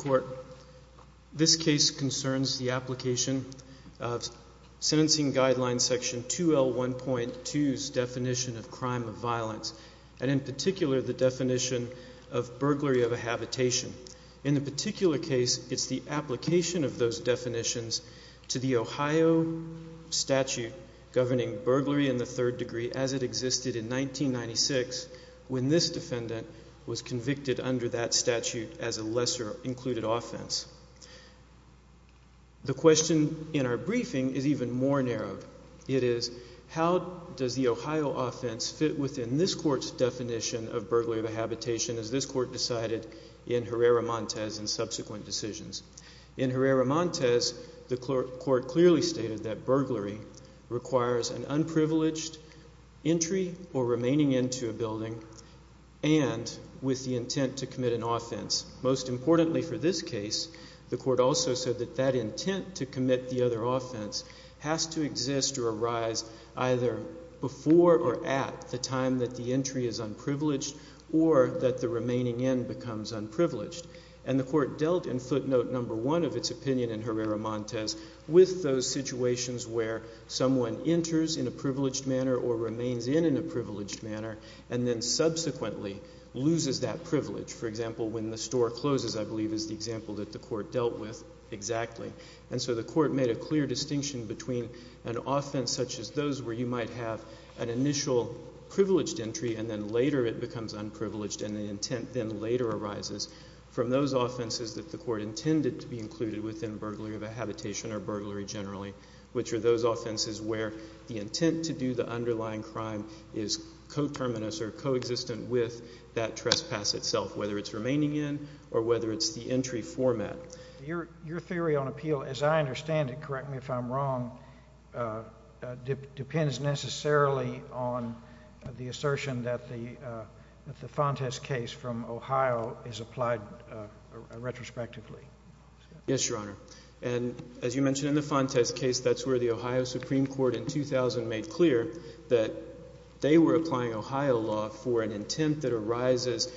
Court, this case concerns the application of sentencing guideline section 2L1.2's definition of crime of violence, and in particular the definition of burglary of a habitation. In the particular case, it's the application of those definitions to the Ohio statute governing burglary in the third degree as it existed in 1996 when this defendant was convicted under that statute as a lesser included offense. The question in our briefing is even more narrowed. It is, how does the Ohio offense fit within this court's definition of burglary of a habitation as this court decided in Herrera Montes and subsequent decisions? In Herrera Montes, the court clearly stated that burglary requires an unprivileged entry or remaining into a building and with the intent to commit an offense. Most importantly for this case, the court also said that that intent to commit the other offense has to exist or arise either before or at the time that the entry is unprivileged or that the remaining in becomes unprivileged. And the court dealt in footnote number one of its opinion in Herrera Montes with those and then subsequently loses that privilege. For example, when the store closes, I believe, is the example that the court dealt with exactly. And so the court made a clear distinction between an offense such as those where you might have an initial privileged entry and then later it becomes unprivileged and the intent then later arises from those offenses that the court intended to be included within burglary of a habitation or burglary generally, which are those offenses where the intent to do the underlying crime is co-terminus or co-existent with that trespass itself, whether it's remaining in or whether it's the entry format. Your theory on appeal, as I understand it, correct me if I'm wrong, depends necessarily on the assertion that the Fontes case from Ohio is applied retrospectively. Yes, Your Honor. And as you mentioned in the Fontes case, that's where the Ohio Supreme Court in 2000 made clear that they were applying Ohio law for an intent that arises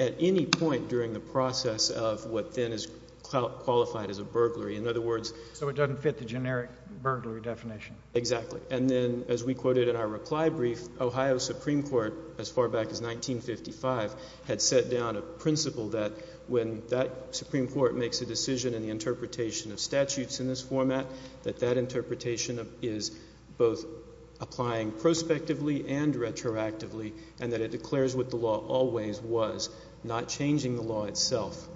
at any point during the process of what then is qualified as a burglary. In other words. So it doesn't fit the generic burglary definition. Exactly. And then as we quoted in our reply brief, Ohio Supreme Court as far back as 1955 had set down a principle that when that Supreme Court makes a decision in the interpretation of statutes in this format, that that interpretation is both applying prospectively and retroactively and that it declares what the law always was, not changing the law itself.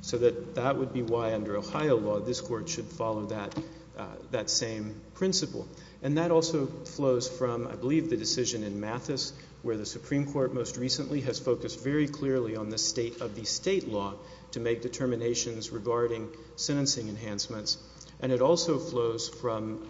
So that would be why under Ohio law, this court should follow that same principle. And that also flows from, I believe, the decision in Mathis where the Supreme Court most recently has focused very clearly on the state of the state law to make determinations regarding sentencing enhancements. And it also flows from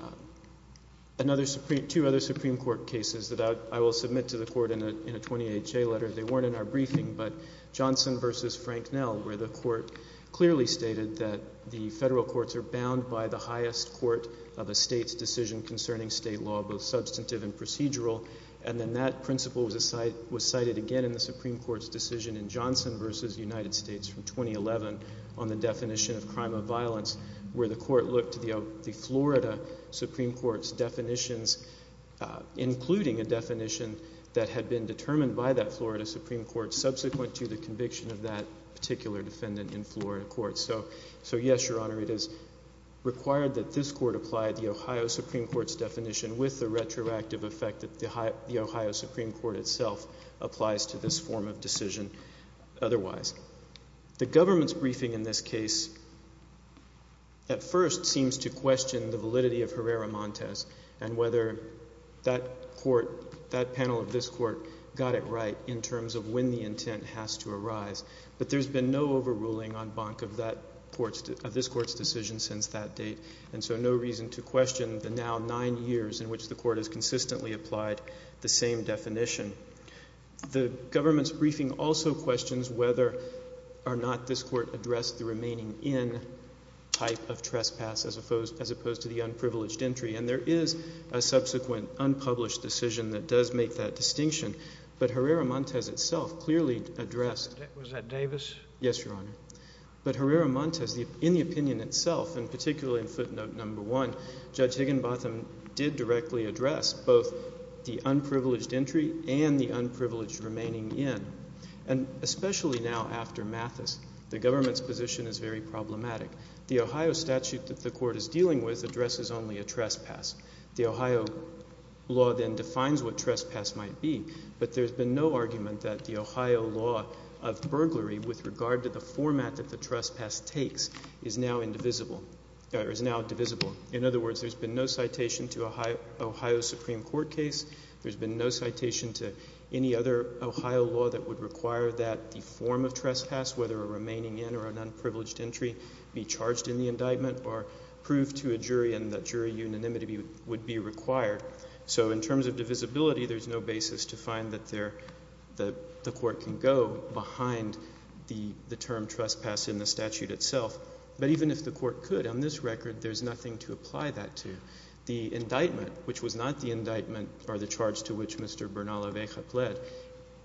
another Supreme, two other Supreme Court cases that I will submit to the Court in a 28-J letter. They weren't in our briefing, but Johnson v. Frank Nell where the Court clearly stated that the federal courts are bound by the highest court of a state's decision concerning state law, both substantive and procedural. And then that principle was cited again in the Supreme Court's decision in Johnson v. United States from 2011 on the definition of crime of violence where the Court looked to the Florida Supreme Court's definitions, including a definition that had been determined by that Florida Supreme Court subsequent to the conviction of that particular defendant in Florida court. So yes, Your Honor, it is required that this Court apply the Ohio Supreme Court's definition with the retroactive effect that the Ohio Supreme Court itself applies to this form of decision otherwise. The government's briefing in this case at first seems to question the validity of Herrera-Montes and whether that panel of this Court got it right in terms of when the intent has to arise. But there's been no overruling en banc of this Court's decision since that date, and so no reason to question the now nine years in which the Court has consistently applied the same definition. The government's briefing also questions whether or not this Court addressed the remaining in type of trespass as opposed to the unprivileged entry. And there is a subsequent unpublished decision that does make that distinction, but Herrera-Montes itself clearly addressed. Was that Davis? Yes, Your Honor. But Herrera-Montes in the opinion itself and particularly in footnote number one, Judge Higginbotham did directly address both the unprivileged entry and the unprivileged remaining in. And especially now after Mathis, the government's position is very problematic. The Ohio statute that the Court is dealing with addresses only a trespass. The Ohio law then defines what trespass might be, but there's been no argument that the Ohio law of burglary with regard to the format that the trespass takes is now indivisible. Or is now divisible. In other words, there's been no citation to Ohio's Supreme Court case. There's been no citation to any other Ohio law that would require that the form of trespass, whether a remaining in or an unprivileged entry, be charged in the indictment or proved to a jury and that jury unanimity would be required. So in terms of divisibility, there's no basis to find that the Court can go behind the term trespass in the statute itself. But even if the Court could, on this record, there's nothing to apply that to. The indictment, which was not the indictment or the charge to which Mr. Bernal-Aveja pled,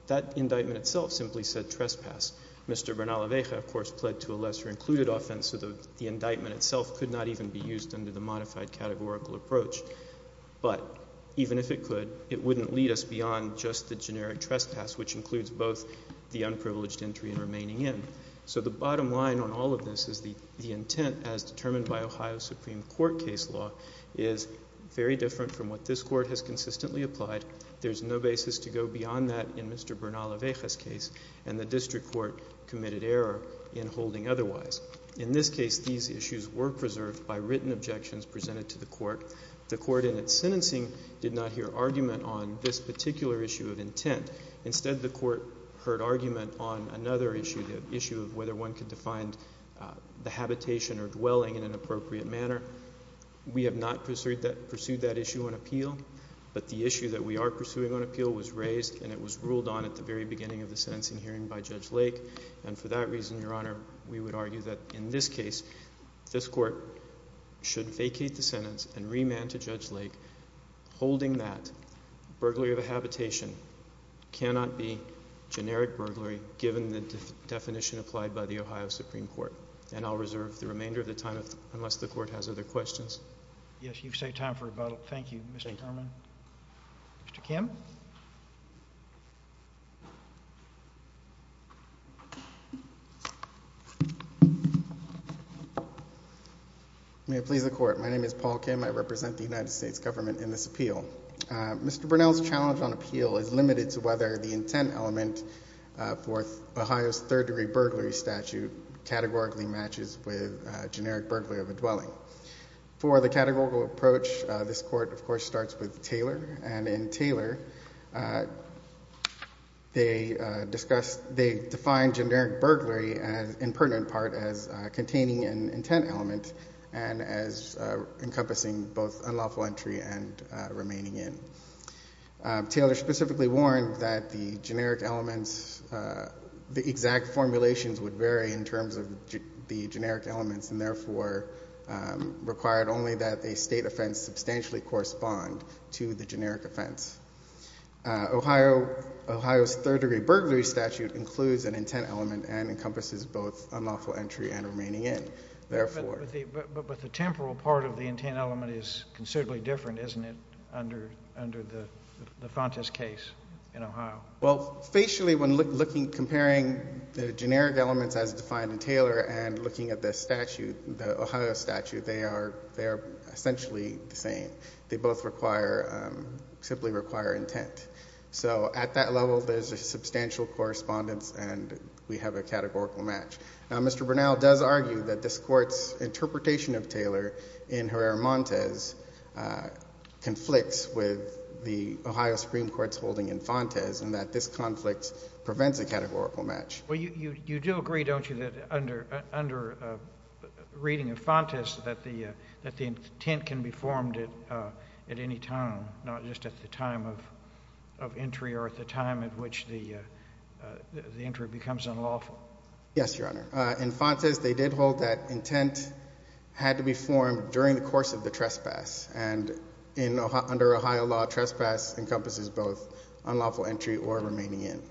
that indictment itself simply said trespass. Mr. Bernal-Aveja, of course, pled to a lesser-included offense, so the indictment itself could not even be used under the modified categorical approach. But even if it could, it wouldn't lead us beyond just the generic trespass, which includes both the unprivileged entry and remaining in. So the bottom line on all of this is the intent, as determined by Ohio's Supreme Court case law, is very different from what this Court has consistently applied. There's no basis to go beyond that in Mr. Bernal-Aveja's case, and the District Court committed error in holding otherwise. In this case, these issues were preserved by written objections presented to the Court. The Court, in its sentencing, did not hear argument on this issue, the issue of whether one could define the habitation or dwelling in an appropriate manner. We have not pursued that issue on appeal, but the issue that we are pursuing on appeal was raised and it was ruled on at the very beginning of the sentencing hearing by Judge Lake. And for that reason, Your Honor, we would argue that in this case, this Court should vacate the sentence and remand to Judge Lake holding that burglary of a habitation cannot be generic burglary, given the definition applied by the Ohio Supreme Court. And I'll reserve the remainder of the time unless the Court has other questions. Yes, you've saved time for rebuttal. Thank you, Mr. Herman. Mr. Kim? May it please the Court. My name is Paul Kim. I represent the United States Government in this case. And Bernal's challenge on appeal is limited to whether the intent element for Ohio's third-degree burglary statute categorically matches with generic burglary of a dwelling. For the categorical approach, this Court, of course, starts with Taylor. And in Taylor, they discuss, they define generic burglary in pertinent part as containing an intent element and as encompassing both Taylor specifically warned that the generic elements, the exact formulations would vary in terms of the generic elements, and therefore required only that a state offense substantially correspond to the generic offense. Ohio's third-degree burglary statute includes an intent element and encompasses both unlawful entry and remaining in. But the temporal part of the intent element is considerably different, isn't it, under the Fontas case in Ohio? Well, facially, when looking, comparing the generic elements as defined in Taylor and looking at the statute, the Ohio statute, they are essentially the same. They both require, simply require intent. So at that level, there's a substantial correspondence and we have a categorical match. Now, Mr. Bernal does argue that this Court's interpretation of Taylor in Herrera-Montes conflicts with the Ohio Supreme Court's holding in Fontas and that this conflict prevents a categorical match. Well, you do agree, don't you, that under reading of Fontas that the intent can be formed at any time, not just at the time of entry or at the time at which the entry becomes unlawful? Yes, Your Honor. In Fontas, they did hold that intent had to be formed during the course of the trespass. And under Ohio law, trespass encompasses both unlawful entry or remaining in.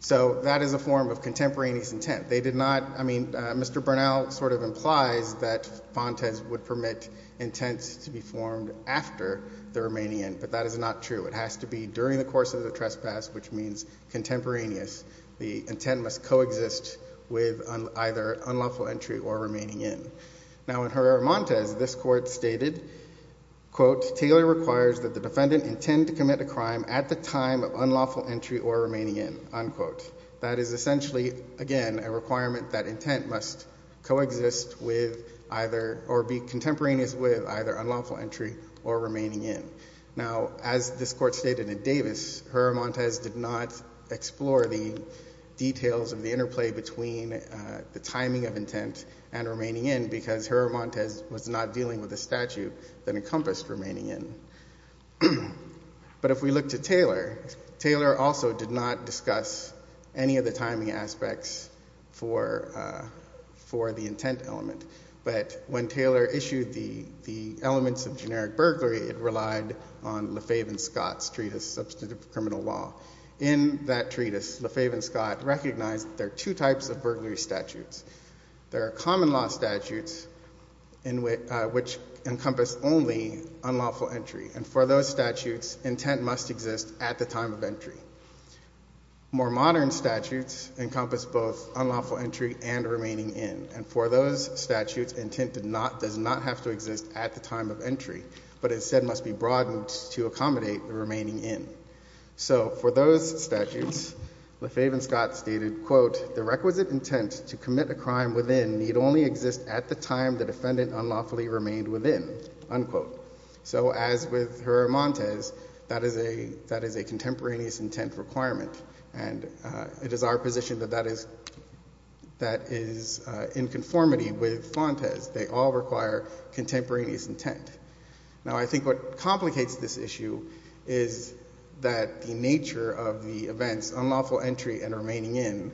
So that is a form of contemporaneous intent. They did not, I mean, Mr. Bernal sort of implies that Fontas would permit intent to be formed after the remaining in, but that is not true. It has to be with either unlawful entry or remaining in. Now, in Herrera-Montes, this Court stated, Taylor requires that the defendant intend to commit a crime at the time of unlawful entry or remaining in. That is essentially, again, a requirement that intent must coexist with either or be contemporaneous with either unlawful entry or remaining in. Now, as this Court stated in between the timing of intent and remaining in, because Herrera-Montes was not dealing with a statute that encompassed remaining in. But if we look to Taylor, Taylor also did not discuss any of the timing aspects for the intent element. But when Taylor issued the elements of generic burglary, it relied on LeFave and Scott's treatise, Substantive Criminal Law. In that treatise, LeFave and Scott recognized there are two types of burglary statutes. There are common law statutes which encompass only unlawful entry. And for those statutes, intent must exist at the time of entry. More modern statutes encompass both unlawful entry and remaining in. And for those statutes, intent does not have to exist at the time of entry, but instead must be broadened to accommodate the remaining in. So for those statutes, LeFave and Scott stated, quote, the requisite intent to commit a crime within need only exist at the time the defendant unlawfully remained within, unquote. So as with Herrera-Montes, that is a contemporaneous intent requirement. And it is our position that that is in conformity with Fontes. They all require contemporaneous intent. Now, I think what complicates this issue is that the nature of the events, unlawful entry and remaining in,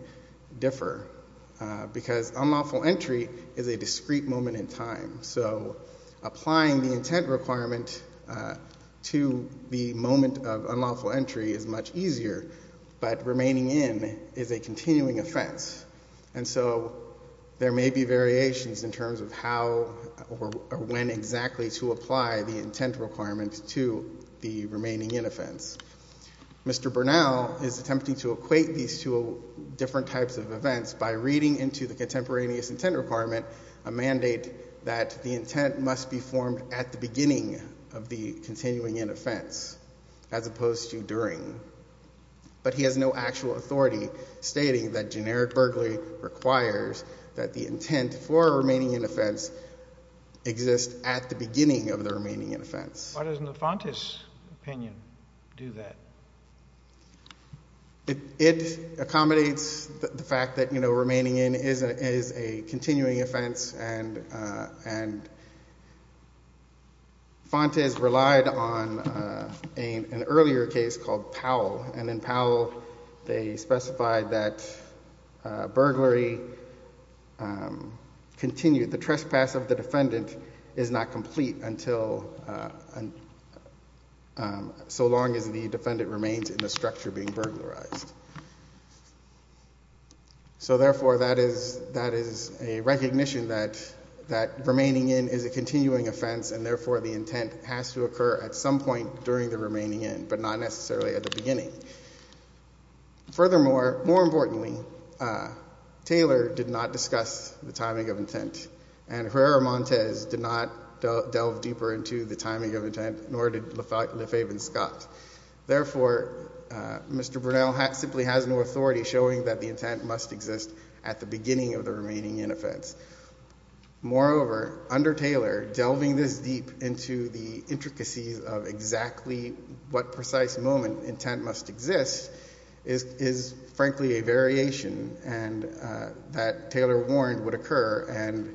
differ. Because unlawful entry is a discrete moment in time. So applying the intent requirement to the moment of unlawful entry is much easier, but remaining in is a continuing offense. And so there may be variations in terms of how or when exactly to apply the intent requirement to the remaining in offense. Mr. Bernal is attempting to equate these two different types of events by reading into the contemporaneous intent requirement a mandate that the intent must be formed at the beginning of the continuing in offense as opposed to during. But he has no actual authority stating that generic burglary requires that the intent for remaining in offense exists at the beginning of the remaining in offense. Why doesn't the Fontes opinion do that? It accommodates the fact that, you know, remaining in is a continuing offense. And Fontes relied on an earlier case called Powell. And in that case, the trespass of the defendant is not complete until so long as the defendant remains in the structure being burglarized. So therefore, that is a recognition that remaining in is a continuing offense, and therefore the intent has to occur at some point during the remaining in, but not necessarily at the beginning. Furthermore, more importantly, Taylor did not discuss the timing of intent, and Herrera-Montes did not delve deeper into the timing of intent, nor did Lefaven-Scott. Therefore, Mr. Bernal simply has no authority showing that the intent must exist at the beginning of the remaining in offense. Moreover, under Taylor, delving this deep into the intent must exist is frankly a variation that Taylor warned would occur and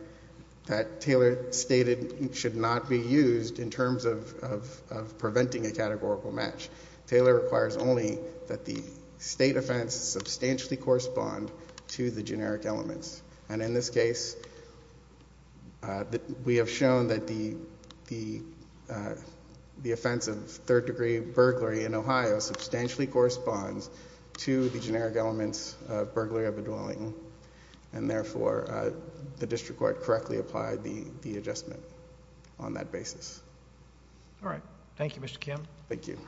that Taylor stated should not be used in terms of preventing a categorical match. Taylor requires only that the state offense substantially correspond to the generic elements. And in this case, we have shown that the offense of third-degree burglary in Ohio substantially corresponds to the generic elements of burglary of a dwelling. And therefore, the district court correctly applied the adjustment on that basis. All right. Thank you, Mr. Kim. Thank you.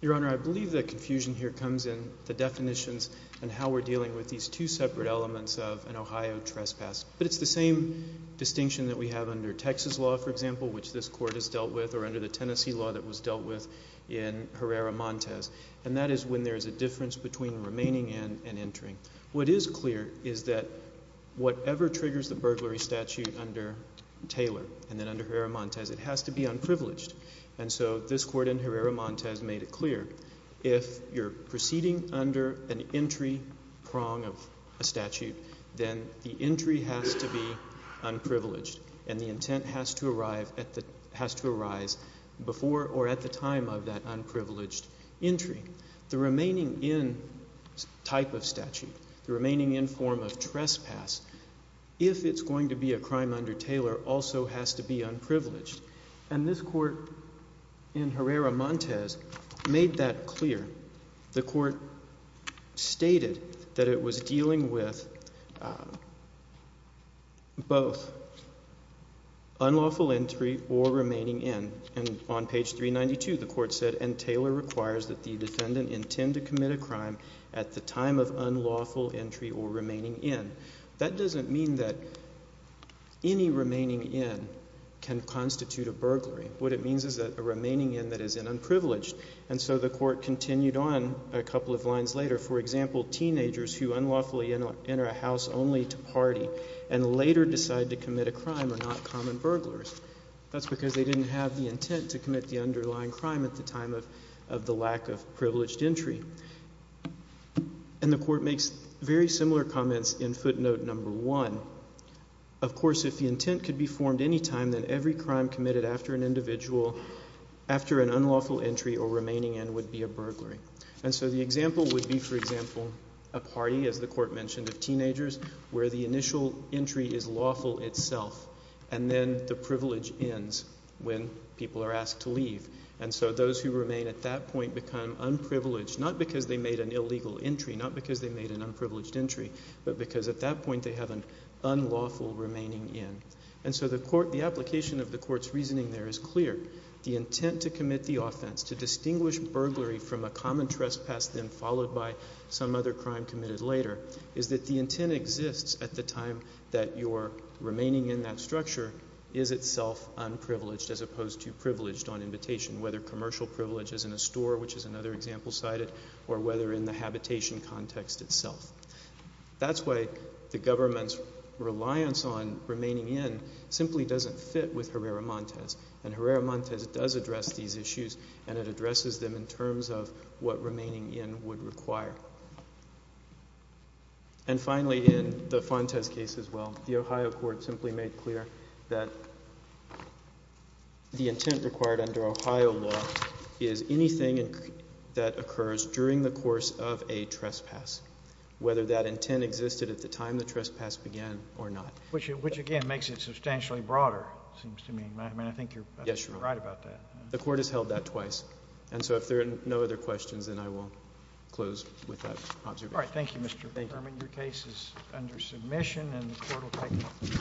Your Honor, I believe the confusion here comes in the definitions and how we're dealing with these two separate elements of an Ohio trespass. But it's the same distinction that we have under Texas law, for example, which this Court has dealt with, or under the Tennessee law that was dealt with in Herrera-Montes. And that is when there is a difference between remaining in and entering. What is clear is that whatever triggers the burglary statute under Taylor and then under Herrera-Montes, it has to be unprivileged. And so this Court in Herrera-Montes made it clear. If you're proceeding under an entry prong of a statute, then the entry has to be unprivileged and the intent has to arise before or at the time of that unprivileged entry. The remaining in type of statute, the remaining in form of trespass, if it's going to be a crime under Taylor, also has to be unprivileged. And this Court in Herrera-Montes made that clear. The Court stated that it was dealing with both unlawful entry or remaining in. And on page 392, the Court said, and Taylor requires that the defendant intend to commit a crime at the time of unlawful entry or remaining in. That doesn't mean that any remaining in can constitute a burglary. What it means is a remaining in that is an unprivileged. And so the Court continued on a couple of lines later. For example, teenagers who unlawfully enter a house only to party and later decide to commit a crime are not common burglars. That's because they didn't have the intent to commit the underlying crime at the time of the lack of privileged entry. And the Court makes very similar comments in footnote number one. Of course, if the intent could be formed any time, then every crime committed after an individual, after an unlawful entry or remaining in would be a burglary. And so the example would be, for example, a party, as the Court mentioned, of teenagers where the initial entry is lawful itself. And then the privilege ends when people are asked to leave. And so those who remain at that point become unprivileged, not because they made an illegal entry, not because they made an unprivileged entry, but because at that point they have an unlawful remaining in. And so the Court, the application of the Court's reasoning there is clear. The intent to commit the offense, to distinguish burglary from a common trespass, then followed by some other crime committed later, is that the intent exists at the time that your remaining in that structure is itself unprivileged as opposed to privileged on invitation, whether commercial privilege is in a store which is another example cited, or whether in the habitation context itself. That's why the government's reliance on remaining in simply doesn't fit with Herrera-Montes. And Herrera-Montes does address these issues, and it addresses them in terms of what remaining in would require. And finally, in the Fontes case as well, the Ohio Court simply made clear that the intent required under Ohio law is anything that occurs during the course of a trespass, whether that intent existed at the time the trespass began or not. Which, again, makes it substantially broader, it seems to me. I mean, I think you're right about that. Yes, Your Honor. The Court has held that twice. And so if there are no other questions, then I will close with that observation. All right. Thank you, Mr. Berman. Your case is under submission, and the Court will take